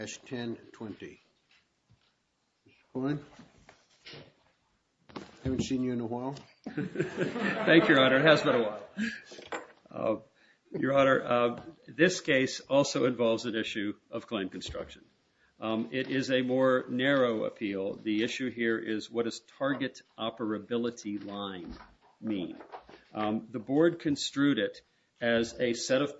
S-1020. Mr. Kline, haven't seen you in a while. Thank you, Your Honor. It has been a while. Your Honor, this case also involves an issue of Kline Construction. It is a more narrow appeal. The issue here is what does target operability line mean? The board construed it as a set of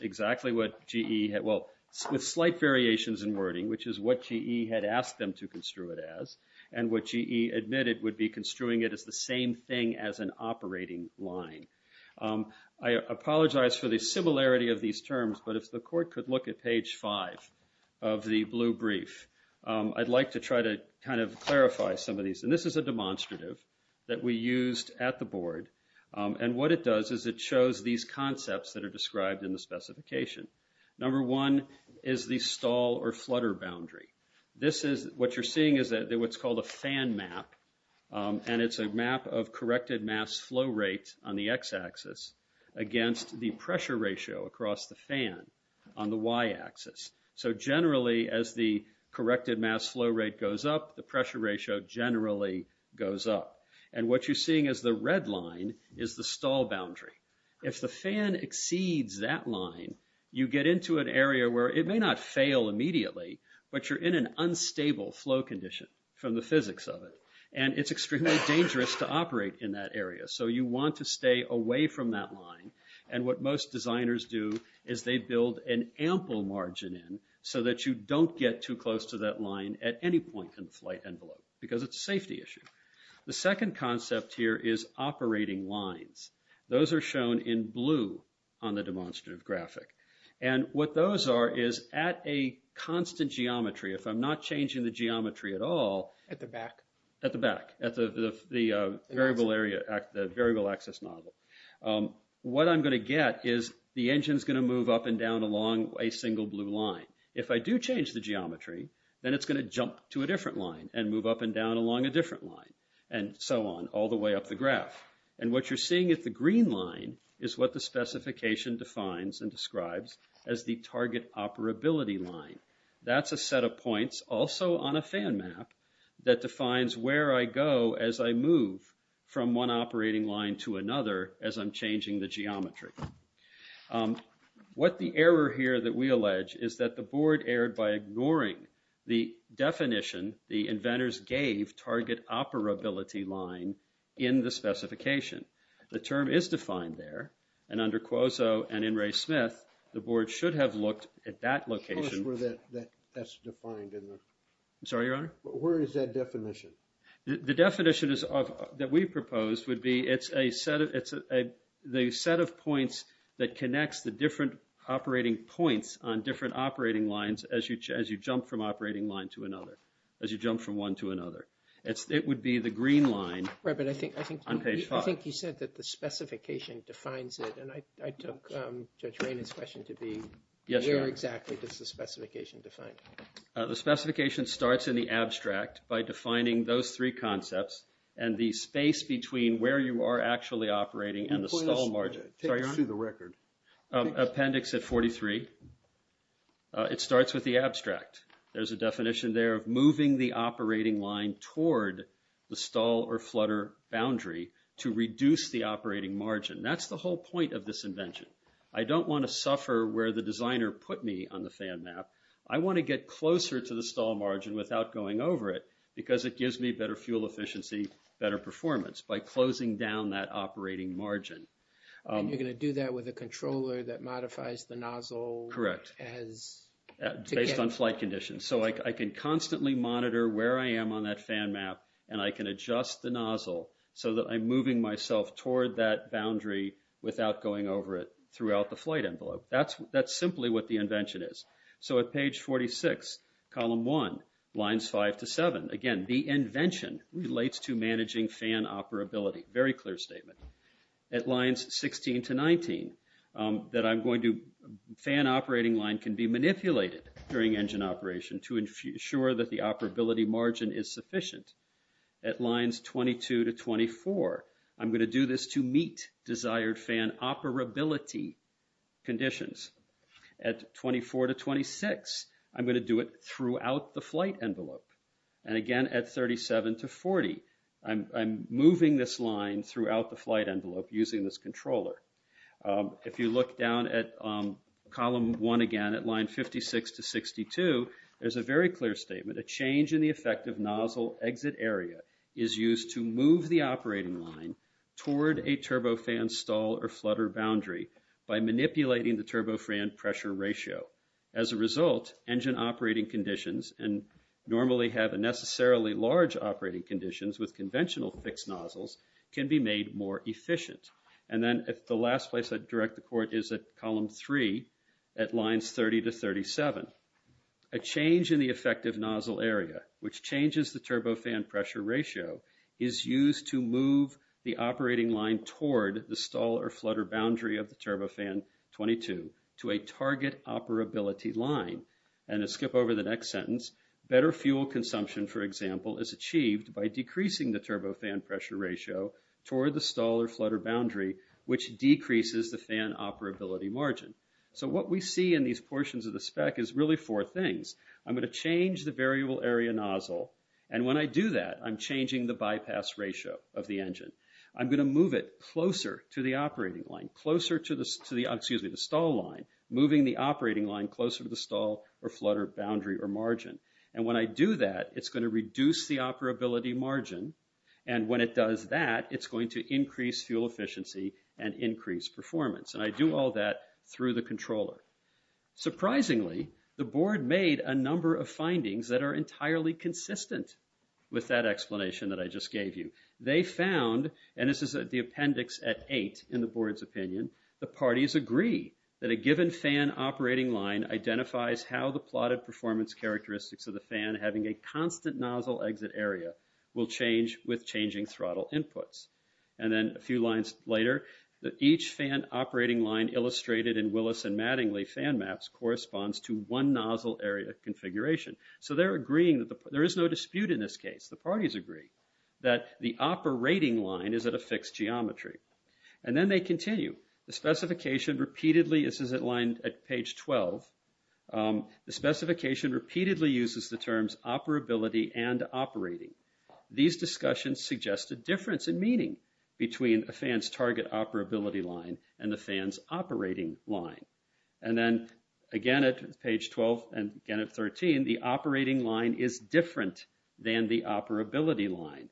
exactly what G.E. had, well, with slight variations in wording, which is what G.E. had asked them to construe it as, and what G.E. admitted would be construing it as the same thing as an operating line. I apologize for the similarity of these terms, but if the court could look at page five of the blue brief, I'd like to try to kind of clarify some of these. And this is a demonstrative that we used at the board, and what it does is it shows these concepts that are described in the specification. Number one is the stall or flutter boundary. What you're seeing is what's called a fan map, and it's a map of corrected mass flow rate on the x-axis against the pressure ratio across the fan on the y-axis. So generally, as the corrected mass flow rate goes up, the pressure ratio generally goes up. And what you're seeing as the red line is the stall boundary. If the fan exceeds that line, you get into an area where it may not fail immediately, but you're in an unstable flow condition from the physics of it, and it's extremely dangerous to operate in that area. So you want to stay away from that line, and what most designers do is they build an ample margin in so that you don't get too close to that line at any point in the flight shown in blue on the demonstrative graphic. And what those are is at a constant geometry, if I'm not changing the geometry at all. At the back. At the back, at the variable area, the variable axis nozzle. What I'm going to get is the engine's going to move up and down along a single blue line. If I do change the geometry, then it's going to jump to a different line and move up and down along a different line, and so on, all the way up the graph. And what you're seeing in the green line is what the specification defines and describes as the target operability line. That's a set of points, also on a fan map, that defines where I go as I move from one operating line to another as I'm changing the geometry. What the error here that we allege is that the board erred by ignoring the definition the inventors gave target operability line in the specification. The term is defined there, and under Cuozzo and in Ray Smith, the board should have looked at that location. Tell us where that's defined in there. I'm sorry, Your Honor? Where is that definition? The definition that we proposed would be it's a set of points that connects the different operating points on different operating lines as you jump from operating line to another. As you jump from one to another. It would be the green line on page five. On page five. I think you said that the specification defines it, and I took Judge Raymond's question to be where exactly does the specification define it? The specification starts in the abstract by defining those three concepts and the space between where you are actually operating and the stall margin. Take us through the record. Appendix at 43. It starts with the abstract. There's a definition there of moving the operating line toward the stall or flutter boundary to reduce the operating margin. That's the whole point of this invention. I don't want to suffer where the designer put me on the fan map. I want to get closer to the stall margin without going over it because it gives me better fuel efficiency, better performance by closing down that operating margin. And you're going to do that with a controller that modifies the nozzle. Correct. Based on flight conditions. So, I can constantly monitor where I am on that fan map and I can adjust the nozzle so that I'm moving myself toward that boundary without going over it throughout the flight envelope. That's simply what the invention is. So, at page 46, column one, lines five to seven. Again, the invention relates to managing fan operability. Very clear statement. At lines 16 to 19, that I'm going to, fan operating line can be manipulated during engine operation to ensure that the operability margin is sufficient. At lines 22 to 24, I'm going to do this to meet desired fan operability conditions. At 24 to 26, I'm going to do it throughout the flight envelope. And again, at 37 to 40, I'm moving this line throughout the flight envelope using this controller. If you look down at column one again, at line 56 to 62, there's a very clear statement. A change in the effective nozzle exit area is used to move the operating line toward a turbofan stall or flutter boundary by manipulating the turbofan pressure ratio. As a result, engine operating conditions, and normally have a necessarily large operating conditions with conventional fixed nozzles, can be made more efficient. And then at the last place I'd direct the court is at column three, at lines 30 to 37. A change in the effective nozzle area, which changes the turbofan pressure ratio, is used to move the operating line toward the stall or flutter boundary of the turbofan 22 to a target operability line. And to skip over the next sentence, better fuel consumption, for example, is achieved by decreasing the turbofan pressure ratio toward the stall or flutter boundary, which decreases the fan operability margin. So what we see in these portions of the spec is really four things. I'm going to change the variable area nozzle. And when I do that, I'm changing the bypass ratio of the engine. I'm going to move it closer to the operating line, closer to the stall line, moving the operating line closer to the stall or flutter boundary or margin. And when I do that, it's going to reduce the operability margin. And when it does that, it's going to increase fuel efficiency and increase performance. And I do all that through the controller. Surprisingly, the board made a number of findings that are entirely consistent with that explanation that I just gave you. They found, and this is the appendix at eight in the board's opinion, the parties agree that a given fan operating line identifies how the plotted performance characteristics of the fan having a constant nozzle exit area will change with changing throttle inputs. And then a few lines later, that each fan operating line illustrated in Willis and Mattingly fan maps corresponds to one nozzle area configuration. So they're agreeing that there is no dispute in this case. The parties agree that the operating line is at a fixed geometry. And then they continue. The specification repeatedly, this is at line at page 12, the specification repeatedly uses the terms operability and operating. These discussions suggest a difference in meaning between a fan's target operability line and the fan's operating line. And then again at page 12 and again at 13, the operating line is different than the operability line.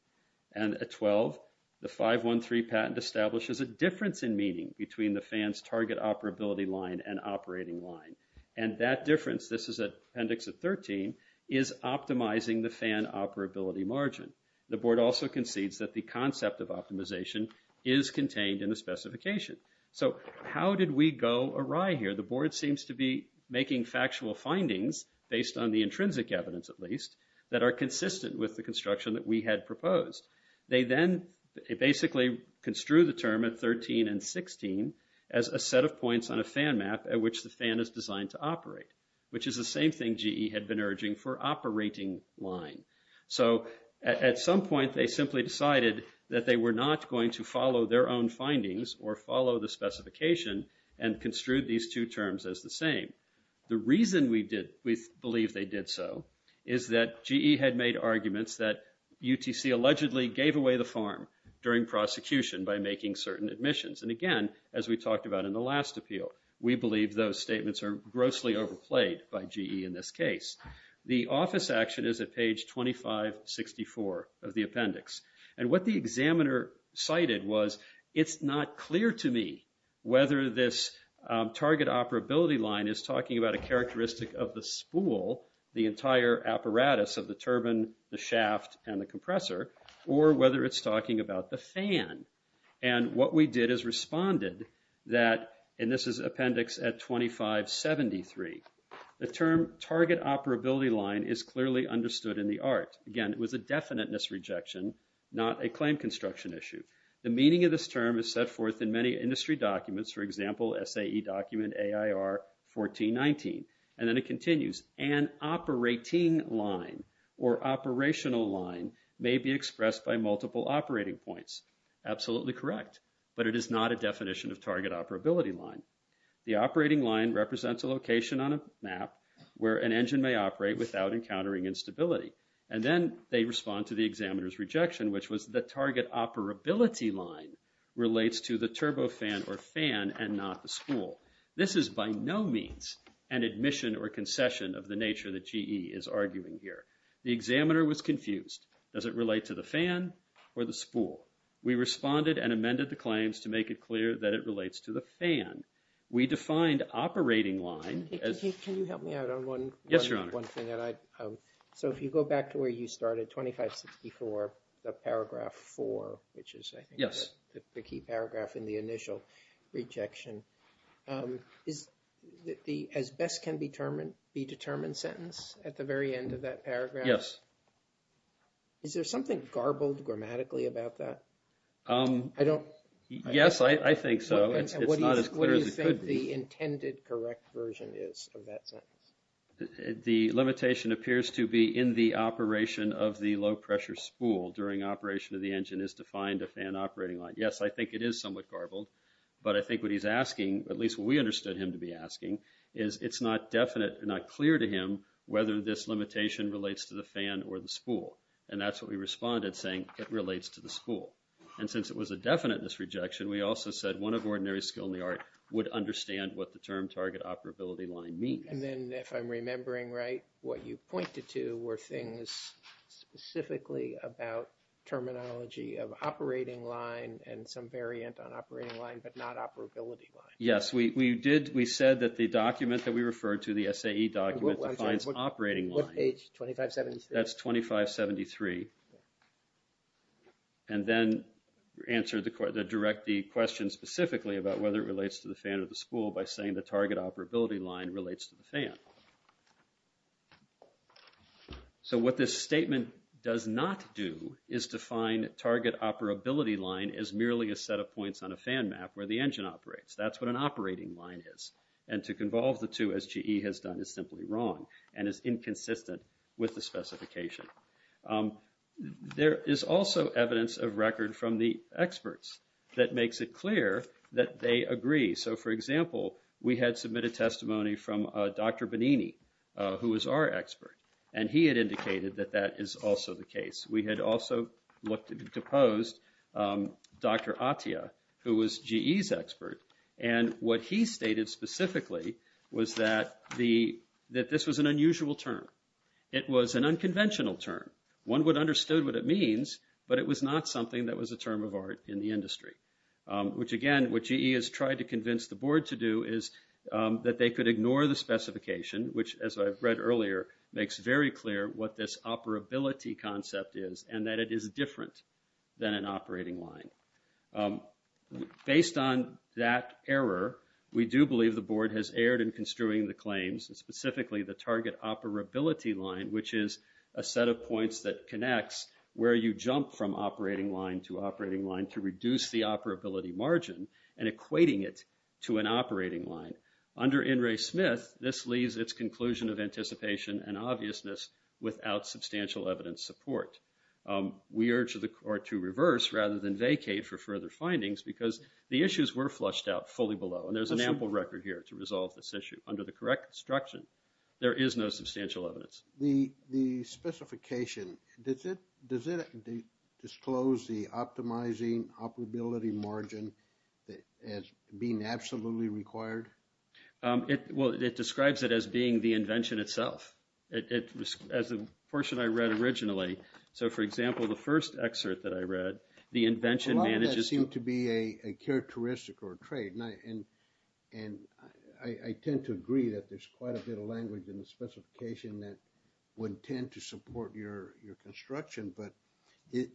And at 12, the 513 patent establishes a difference in meaning between the fan's target operability line and operating line. And that difference, this is appendix at 13, is optimizing the fan operability margin. The board also concedes that the concept of optimization is contained in the specification. So how did we go awry here? The board seems to be making factual findings, based on the intrinsic evidence at least, that are consistent with the construction that we had proposed. They then basically construe the term at 13 and 16 as a set of points on a fan map at which the fan is designed to operate, which is the same thing GE had been urging for operating line. So at some point, they simply decided that they were not going to follow their own findings or follow the specification and construed these two terms as the same. The reason we believe they did so is that GE had made arguments that UTC allegedly gave away the farm during prosecution by making certain admissions. And again, as we talked about in the last appeal, we believe those statements are grossly overplayed by GE in this case. The office action is at page 2564 of the appendix. And what the examiner cited was, it's not clear to me whether this target operability line is talking about a characteristic of the spool, the entire apparatus of the turbine, the shaft, and the compressor, or whether it's talking about the fan. And what we did is responded that, and this is appendix at 2573, the term target operability line is clearly understood in the art. Again, it was a definiteness rejection, not a claim construction issue. The meaning of this term is set forth in many industry documents, for example, SAE document, AIR 1419. And then it continues, an operating line or operational line may be expressed by multiple operating points. Absolutely correct. But it is not a definition of target operability line. The operating line represents a location on a map where an engine may operate without encountering instability. And then they respond to the examiner's rejection, which was the target operability line relates to the turbofan or fan and not the spool. This is by no means an admission or concession of the nature that GE is arguing here. The examiner was confused. Does it relate to the fan or the spool? We responded and amended the claims to make it clear that it relates to the fan. We defined operating line as- Can you help me out on one thing? Yes, Your Honor. So if you go back to where you started, 2564, the paragraph 4, which is, I think, the key paragraph in the initial rejection, is the as-best-can-be-determined sentence at the very end of that paragraph? Yes. Is there something garbled grammatically about that? I don't- Yes, I think so. It's not as clear as it could be. What do you think the intended correct version is of that sentence? The limitation appears to be in the operation of the low-pressure spool during operation of the engine is defined a fan operating line. Yes, I think it is somewhat garbled, but I think what he's asking, at least what we understood him to be asking, is it's not definite, not clear to him whether this limitation relates to the fan or the spool. And that's what we responded saying it relates to the spool. And since it was a definiteness rejection, we also said one of ordinary skill in the art would understand what the term target operability line means. And then if I'm remembering right, what you pointed to were things specifically about terminology of operating line and some variant on operating line, but not operability line. Yes, we did, we said that the document that we referred to, the SAE document, defines operating line. What page, 2573? That's 2573. And then answer the question, direct the question specifically about whether it relates to the fan or the spool by saying the target operability line relates to the fan. So, what this statement does not do is define target operability line as merely a set of points on a fan map where the engine operates. That's what an operating line is. And to convolve the two, as GE has done, is simply wrong and is inconsistent with the specification. There is also evidence of record from the experts that makes it clear that they agree. So, for example, we had submitted testimony from Dr. Benini, who was our expert, and he had indicated that that is also the case. We had also deposed Dr. Atia, who was GE's expert. And what he stated specifically was that this was an unusual term. It was an unconventional term. One would have understood what it means, but it was not something that was a term of art in the industry. Which, again, what GE has tried to convince the board to do is that they could ignore the specification, which, as I've read earlier, makes very clear what this operability concept is and that it is different than an operating line. Based on that error, we do believe the board has erred in construing the claims, specifically the target operability line, which is a set of points that connects where you jump from an operability margin and equating it to an operating line. Under In re Smith, this leaves its conclusion of anticipation and obviousness without substantial evidence support. We urge the court to reverse rather than vacate for further findings because the issues were flushed out fully below, and there's an ample record here to resolve this issue. Under the correct construction, there is no substantial evidence. The specification, does it disclose the optimizing operability margin as being absolutely required? Well, it describes it as being the invention itself. As the portion I read originally. So, for example, the first excerpt that I read, the invention manages to- A lot of that seemed to be a characteristic or a trait, and I tend to agree that there's quite a bit of language in the specification that would tend to support your construction, but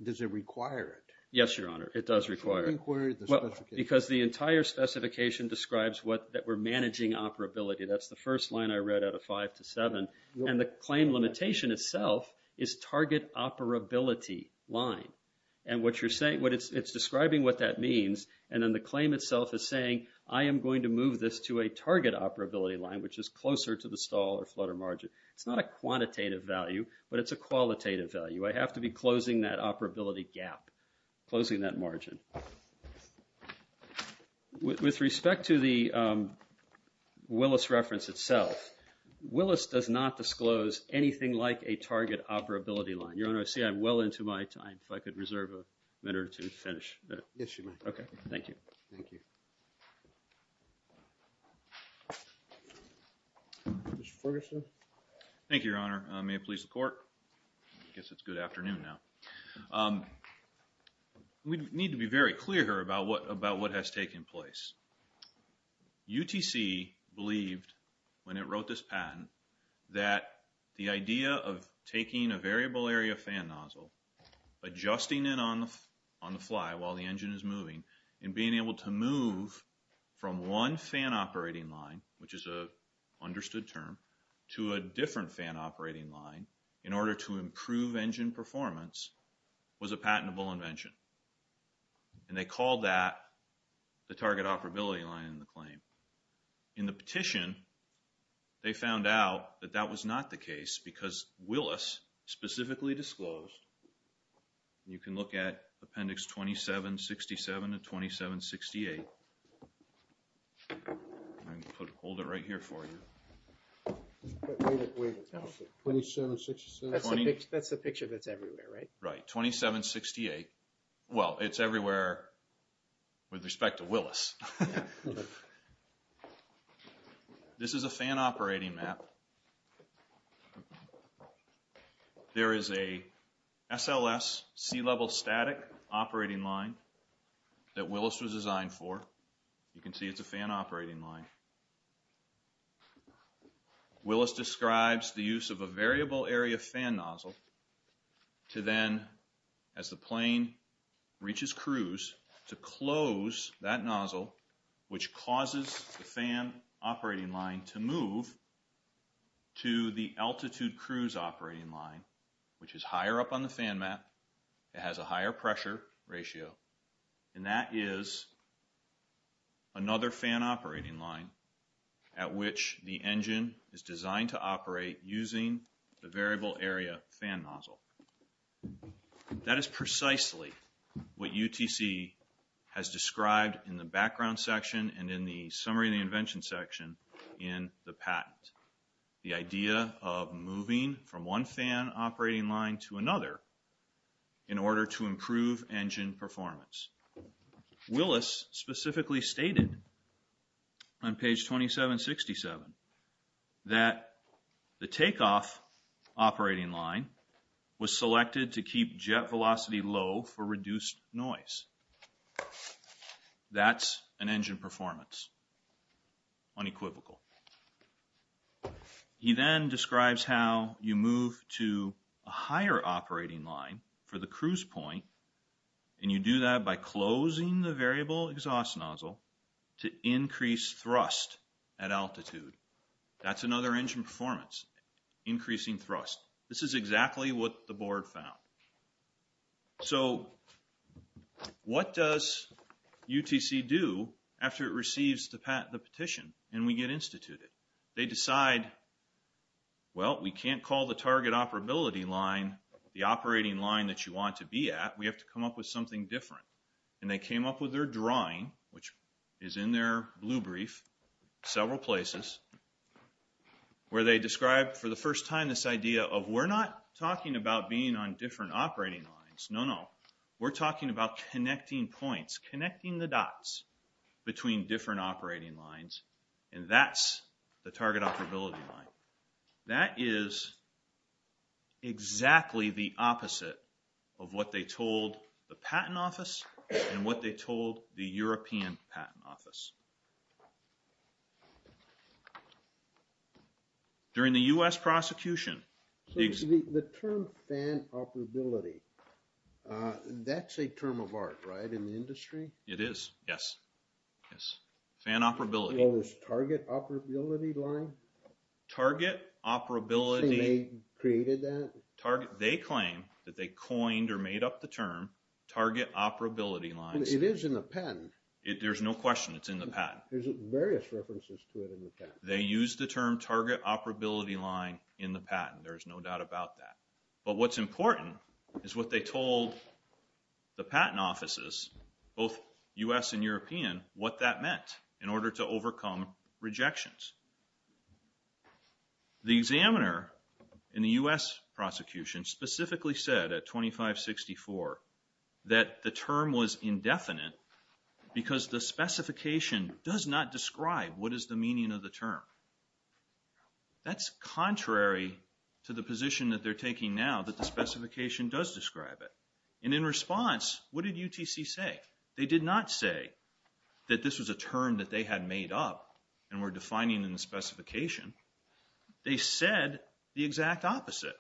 does it require it? Yes, Your Honor. It does require it. Because the entire specification describes that we're managing operability. That's the first line I read out of five to seven, and the claim limitation itself is target operability line. And what you're saying, it's describing what that means, and then the claim itself is saying, I am going to move this to a target operability line, which is closer to the stall or flutter margin. It's not a quantitative value, but it's a qualitative value. I have to be closing that operability gap, closing that margin. With respect to the Willis reference itself, Willis does not disclose anything like a target operability line. Your Honor, I see I'm well into my time. If I could reserve a minute or two to finish. Yes, you may. Okay. Thank you. Thank you. Mr. Ferguson? Thank you, Your Honor. May it please the Court? I guess it's good afternoon now. We need to be very clear here about what has taken place. UTC believed, when it wrote this patent, that the idea of taking a variable area fan nozzle, adjusting it on the fly while the engine is moving, and being able to move from one fan operating line, which is an understood term, to a different fan operating line in order to improve engine performance was a patentable invention. And they called that the target operability line in the claim. In the petition, they found out that that was not the case because Willis specifically disclosed, you can look at Appendix 2767 and 2768, I'll hold it right here for you. That's the picture that's everywhere, right? Right. 2768, well, it's everywhere with respect to Willis. This is a fan operating map. There is a SLS, sea-level static, operating line that Willis was designed for. You can see it's a fan operating line. Willis describes the use of a variable area fan nozzle to then, as the plane reaches cruise, to close that nozzle, which causes the fan operating line to move to the altitude cruise operating line, which is higher up on the fan map. It has a higher pressure ratio. And that is another fan operating line at which the engine is designed to operate using the variable area fan nozzle. And that is precisely what UTC has described in the background section and in the summary of the invention section in the patent. The idea of moving from one fan operating line to another in order to improve engine performance. Willis specifically stated on page 2767 that the takeoff operating line was selected to keep jet velocity low for reduced noise. That's an engine performance, unequivocal. He then describes how you move to a higher operating line for the cruise point, and you do that by closing the variable exhaust nozzle to increase thrust at altitude. That's another engine performance, increasing thrust. This is exactly what the board found. So what does UTC do after it receives the petition and we get instituted? They decide, well, we can't call the target operability line the operating line that you want to be at. We have to come up with something different. And they came up with their drawing, which is in their blue brief, several places, where they described for the first time this idea of we're not talking about being on different operating lines, no, no. We're talking about connecting points, connecting the dots between different operating lines, and that's the target operability line. That is exactly the opposite of what they told the Patent Office and what they told the European Patent Office. During the U.S. prosecution... So the term fan operability, that's a term of art, right, in the industry? It is, yes. Yes. Fan operability. What was target operability line? Target operability... They created that? They claim that they coined or made up the term target operability lines. It is in the patent. There's no question it's in the patent. There's various references to it in the patent. They used the term target operability line in the patent. There's no doubt about that. But what's important is what they told the Patent Offices, both U.S. and European, what that meant in order to overcome rejections. The examiner in the U.S. prosecution specifically said at 2564 that the term was indefinite because the specification does not describe what is the meaning of the term. That's contrary to the position that they're taking now that the specification does describe it. And in response, what did UTC say? They did not say that this was a term that they had made up and were defining in the specification. They said the exact opposite.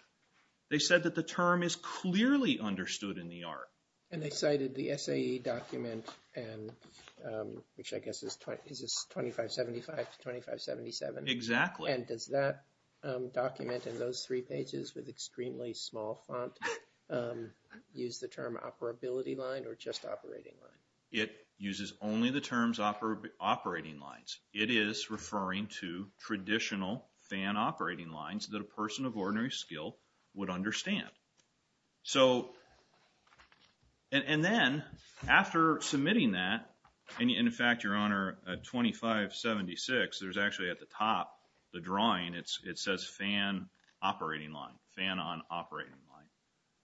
They said that the term is clearly understood in the art. And they cited the SAE document, which I guess is 2575 to 2577. Exactly. And does that document in those three pages with extremely small font use the term operability line or just operating line? It uses only the terms operating lines. It is referring to traditional fan operating lines that a person of ordinary skill would understand. So and then after submitting that, and in fact, Your Honor, at 2576, there's actually at the top, the drawing, it says fan operating line, fan on operating line.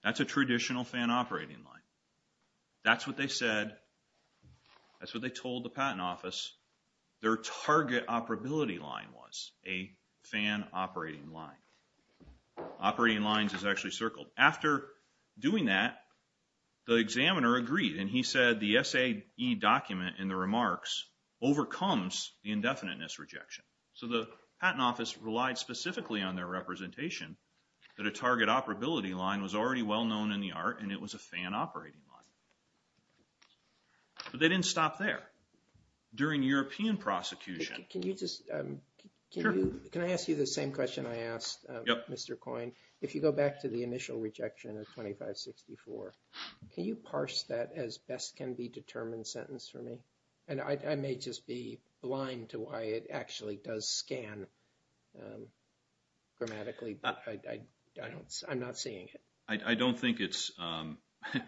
That's a traditional fan operating line. That's what they said. That's what they told the Patent Office. Their target operability line was a fan operating line. Operating lines is actually circled. After doing that, the examiner agreed. And he said the SAE document in the remarks overcomes the indefiniteness rejection. So the Patent Office relied specifically on their representation that a target operability line was already well known in the art and it was a fan operating line. But they didn't stop there. During European prosecution. Can you just, can I ask you the same question I asked Mr. Coyne? If you go back to the initial rejection of 2564, can you parse that as best can be determined sentence for me? And I may just be blind to why it actually does scan grammatically. I'm not seeing it. I don't think it's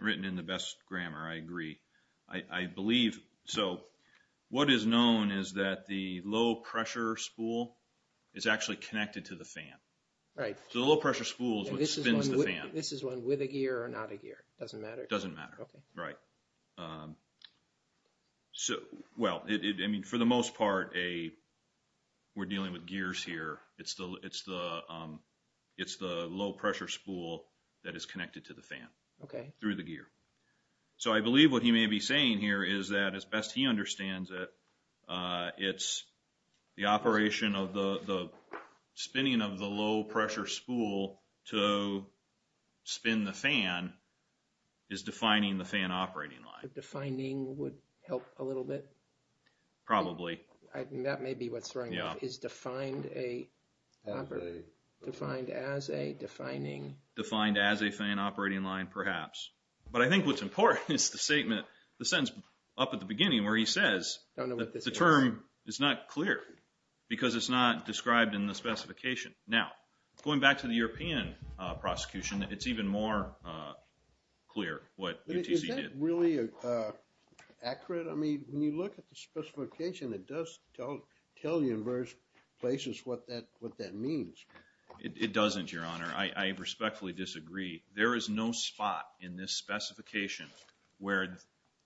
written in the best grammar. I agree. I believe, so what is known is that the low pressure spool is actually connected to the fan. Right. So the low pressure spool is what spins the fan. This is one with a gear or not a gear? Doesn't matter. Doesn't matter. Okay. Right. So, well, I mean, for the most part, we're dealing with gears here. It's the low pressure spool that is connected to the fan. Okay. Through the gear. So I believe what he may be saying here is that as best he understands it, it's the operation of the spinning of the low pressure spool to spin the fan is defining the fan operating line. Defining would help a little bit. Probably. I mean, that may be what's wrong. Yeah. Defined as a fan operating line, perhaps. But I think what's important is the sentence up at the beginning where he says that the term is not clear because it's not described in the specification. Now, going back to the European prosecution, it's even more clear what UTC did. Is that really accurate? I mean, when you look at the specification, it does tell you in various places what that means. It doesn't, Your Honor. I respectfully disagree. There is no spot in this specification where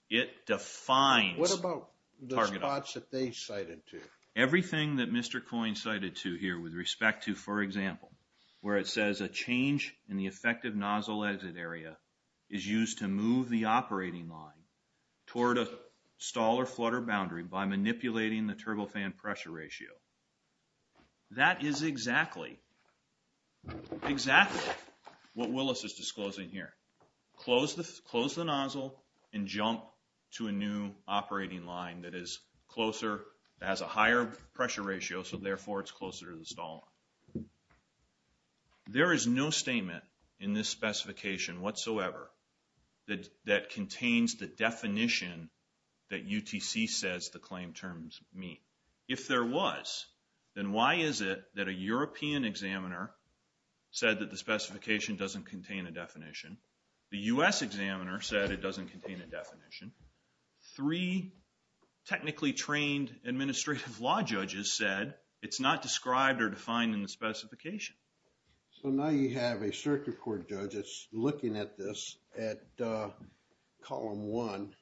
it defines. What about the spots that they cited to? Everything that Mr. Coyne cited to here with respect to, for example, where it says a change in the effective nozzle exit area is used to move the operating line toward a stall or flutter boundary by manipulating the turbofan pressure ratio. That is exactly, exactly what Willis is disclosing here. Close the nozzle and jump to a new operating line that is closer, that has a higher pressure ratio, so therefore it's closer to the stall line. There is no statement in this specification whatsoever that contains the definition that UTC says the claim terms mean. If there was, then why is it that a European examiner said that the specification doesn't contain a definition? The U.S. examiner said it doesn't contain a definition. Three technically trained administrative law judges said it's not described or defined in the specification. So, now you have a circuit court judge that's looking at this at column one.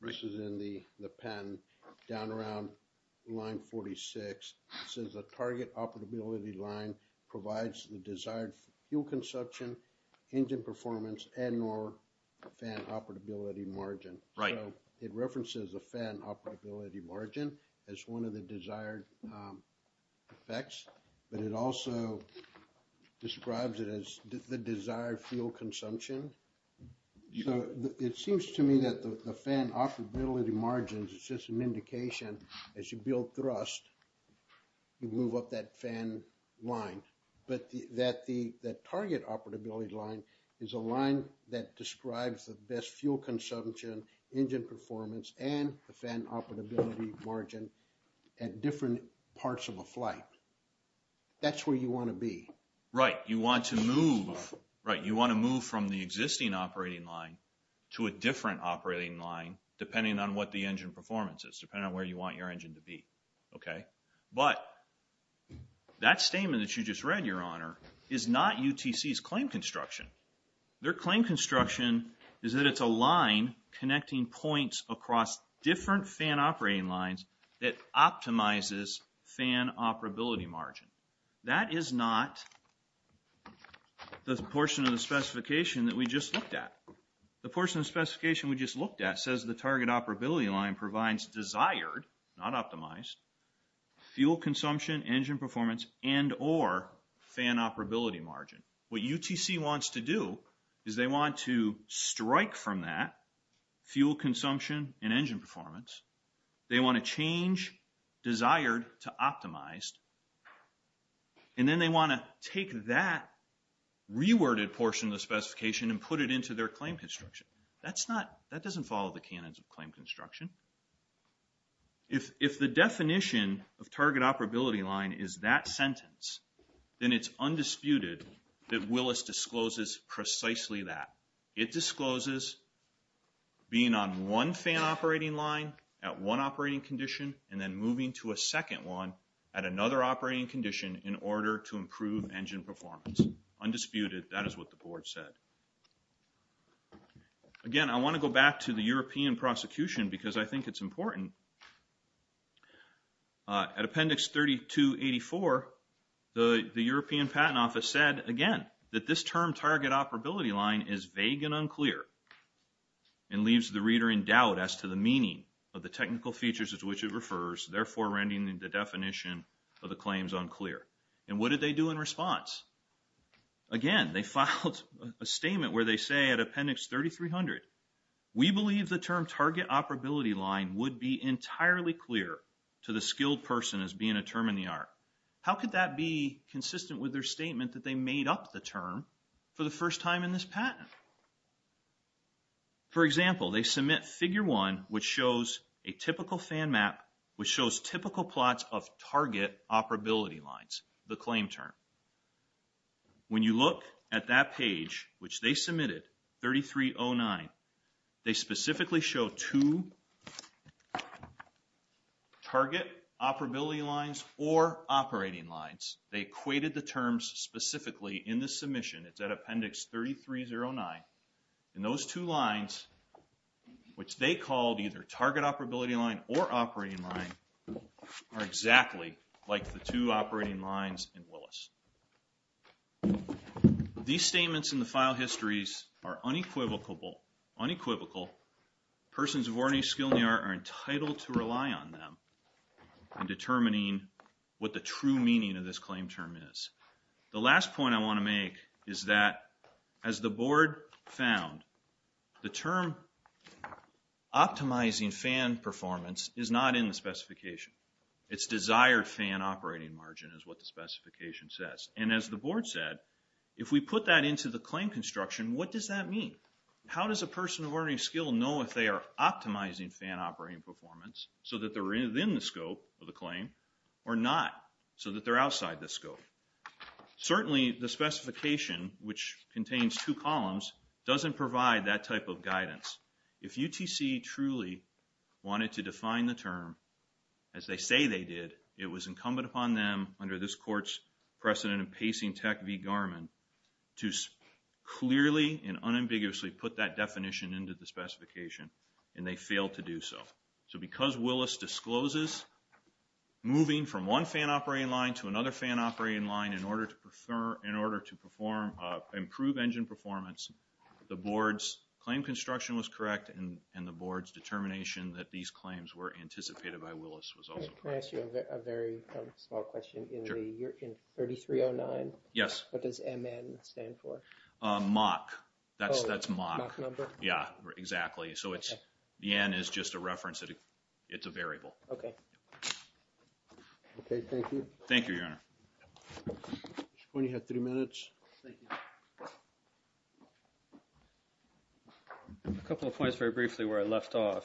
This is in the pen down around line 46. It says the target operability line provides the desired fuel consumption, engine performance, and or fan operability margin. It references the fan operability margin as one of the desired effects, but it also describes it as the desired fuel consumption. So, it seems to me that the fan operability margin is just an indication as you build thrust, you move up that fan line, but that the target operability line is a line that describes the best fuel consumption, engine performance, and the fan operability margin at different parts of a flight. That's where you want to be. Right. You want to move, right, you want to move from the existing operating line to a different operating line depending on what the engine performance is, depending on where you want your engine to be. Okay. But that statement that you just read, your honor, is not UTC's claim construction. Their claim construction is that it's a line connecting points across different fan operating lines that optimizes fan operability margin. That is not the portion of the specification that we just looked at. The portion of specification we just looked at says the target operability line provides desired, not optimized, fuel consumption, engine performance, and or fan operability margin. What UTC wants to do is they want to strike from that fuel consumption and engine performance. They want to change desired to optimized, and then they want to take that reworded portion of the specification and put it into their claim construction. That's not, that doesn't follow the canons of claim construction. If the definition of target operability line is that sentence, then it's undisputed that Willis discloses precisely that. It discloses being on one fan operating line at one operating condition and then moving to a second one at another operating condition in order to improve engine performance. Undisputed. That is what the board said. Again, I want to go back to the European prosecution because I think it's important. At Appendix 3284, the European Patent Office said, again, that this term target operability line is vague and unclear, and leaves the reader in doubt as to the meaning of the technical features as to which it refers, therefore rending the definition of the claims unclear. And what did they do in response? Again, they filed a statement where they say at Appendix 3300, we believe the term target operability line would be entirely clear to the skilled person as being a term in the art. How could that be consistent with their statement that they made up the term for the first time in this patent? For example, they submit figure one, which shows a typical fan map, which shows typical plots of target operability lines, the claim term. When you look at that page, which they submitted 3309, they specifically show two target operability lines or operating lines. They equated the terms specifically in the submission. It's at Appendix 3309, and those two lines, which they called either target operability line or operating line, are exactly like the two operating lines in Willis. These statements in the file histories are unequivocal, persons of ordinary skill in the art are entitled to rely on them in determining what the true meaning of this claim term is. The last point I want to make is that as the board found, the term optimizing fan performance is not in the specification. It's desired fan operating margin is what the specification says. And as the board said, if we put that into the claim construction, what does that mean? How does a person of ordinary skill know if they are optimizing fan operating performance so that they're within the scope of the claim or not, so that they're outside the scope? Certainly, the specification, which contains two columns, doesn't provide that type of guidance. If UTC truly wanted to define the term as they say they did, it was incumbent upon them under this court's precedent in pacing tech v. Garmin to clearly and unambiguously put that definition into the specification, and they failed to do so. So because Willis discloses moving from one fan operating line to another fan operating line in order to improve engine performance, the board's claim construction was correct, and the board's determination that these claims were anticipated by Willis was also correct. Can I ask you a very small question? Sure. In 3309, what does MN stand for? MOC. That's MOC. Oh, the MOC number? Yeah, exactly. So the N is just a reference. It's a variable. Okay. Okay, thank you. Thank you, Your Honor. At this point, you have three minutes. A couple of points very briefly where I left off.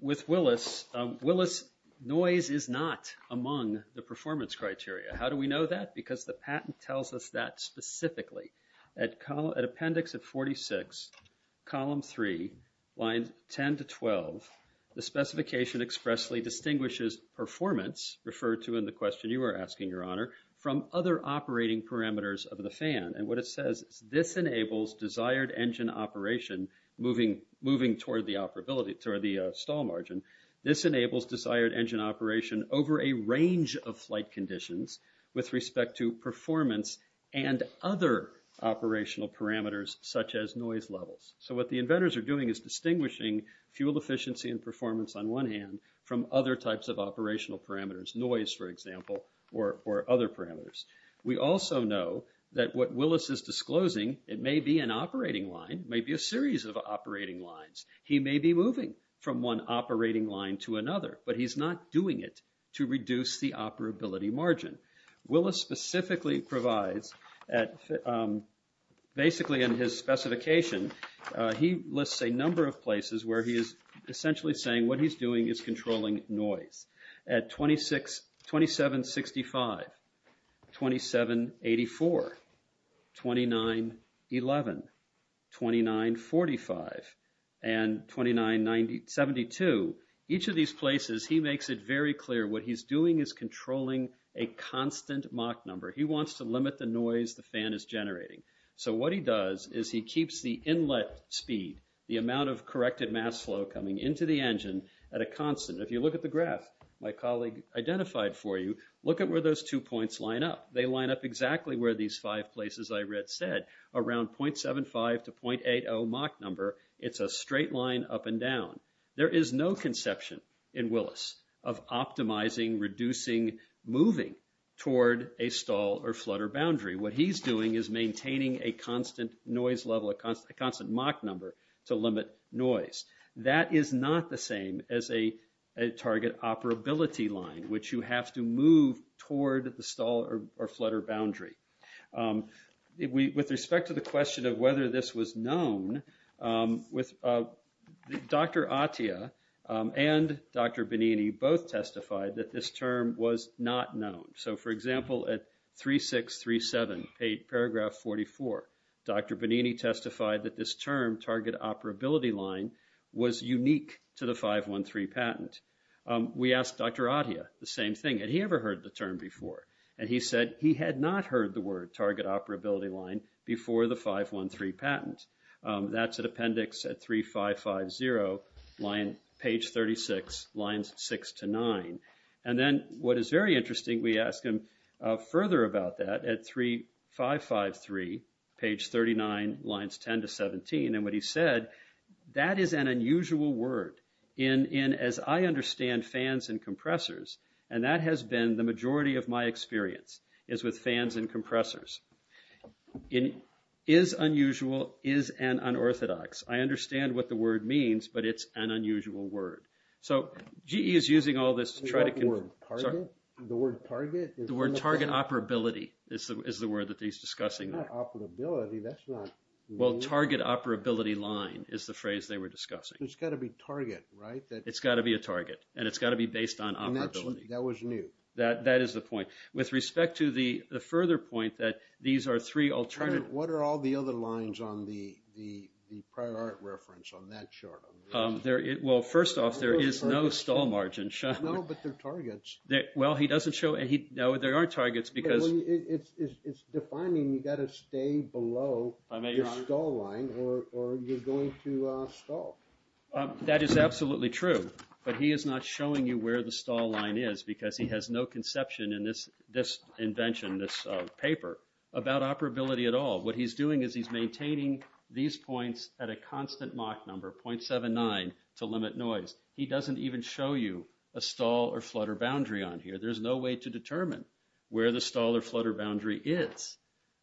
With Willis, Willis noise is not among the performance criteria. How do we know that? Because the patent tells us that specifically. At appendix of 46, column 3, lines 10 to 12, the specification expressly distinguishes performance referred to in the question you are asking, Your Honor, from other operating parameters of the fan. And what it says is this enables desired engine operation moving toward the stall margin. This enables desired engine operation over a range of flight conditions with respect to performance and other operational parameters such as noise levels. So what the inventors are doing is distinguishing fuel efficiency and performance on one hand from other types of operational parameters, noise, for example, or other parameters. We also know that what Willis is disclosing, it may be an operating line, it may be a series of operating lines. He may be moving from one operating line to another, but he's not doing it to reduce the operability margin. Willis specifically provides, basically in his specification, he lists a number of places where he is essentially saying what he's doing is controlling noise. At 2765, 2784, 2911, 2945, and 2972, each of these places he makes it very clear what he's doing is controlling a constant Mach number. He wants to limit the noise the fan is generating. So what he does is he keeps the inlet speed, the amount of corrected mass flow coming into the engine at a constant. If you look at the graph my colleague identified for you, look at where those two points line up. They line up exactly where these five places I read said, around 0.75 to 0.80 Mach number. It's a straight line up and down. There is no conception in Willis of optimizing, reducing, moving toward a stall or flutter boundary. What he's doing is maintaining a constant noise level, a constant Mach number to limit noise. That is not the same as a target operability line, which you have to move toward the stall or flutter boundary. With respect to the question of whether this was known, Dr. Attia and Dr. Benini both testified that this term was not known. So for example, at 3637, paragraph 44, Dr. Benini testified that this term, target operability line, was unique to the 513 patent. We asked Dr. Attia the same thing. Had he ever heard the term before? And he said he had not heard the word target operability line before the 513 patent. That's an appendix at 3550, page 36, lines 6 to 9. And then what is very interesting, we asked him further about that at 3553, page 39, lines 10 to 17. And what he said, that is an unusual word in, as I understand fans and compressors, and that has been the majority of my experience is with fans and compressors. It is unusual, is an unorthodox. I understand what the word means, but it's an unusual word. So, GE is using all this to try to... The word target? The word target operability is the word that he's discussing. Not operability, that's not... Well, target operability line is the phrase they were discussing. It's got to be target, right? It's got to be a target, and it's got to be based on operability. That was new. That is the point. With respect to the further point that these are three alternative... What are all the other lines on the prior art reference on that chart? Well, first off, there is no stall margin shown. No, but they're targets. Well, he doesn't show any... No, there aren't targets because... It's defining you got to stay below your stall line or you're going to stall. That is absolutely true, but he is not showing you where the stall line is because he has no conception in this invention, this paper, about operability at all. What he's doing is he's maintaining these points at a constant Mach number, 0.79, to limit noise. He doesn't even show you a stall or flutter boundary on here. There's no way to determine where the stall or flutter boundary is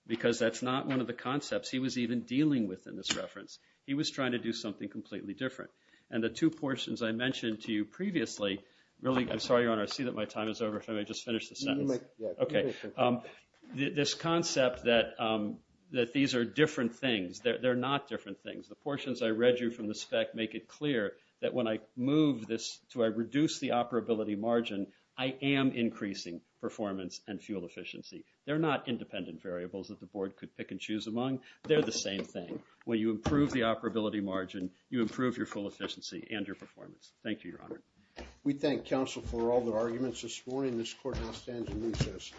because that's not one of the concepts he was even dealing with in this reference. He was trying to do something completely different. And the two portions I mentioned to you previously, really... I'm sorry, Your Honor, I see that my time is over. If I may just finish the sentence. Okay, this concept that these are different things, they're not different things. The portions I read you from the spec make it clear that when I move this to reduce the operability margin, I am increasing performance and fuel efficiency. They're not independent variables that the board could pick and choose among. They're the same thing. When you improve the operability margin, you improve your full efficiency and your performance. Thank you, Your Honor. We thank counsel for all the arguments this morning. This court now stands in recess.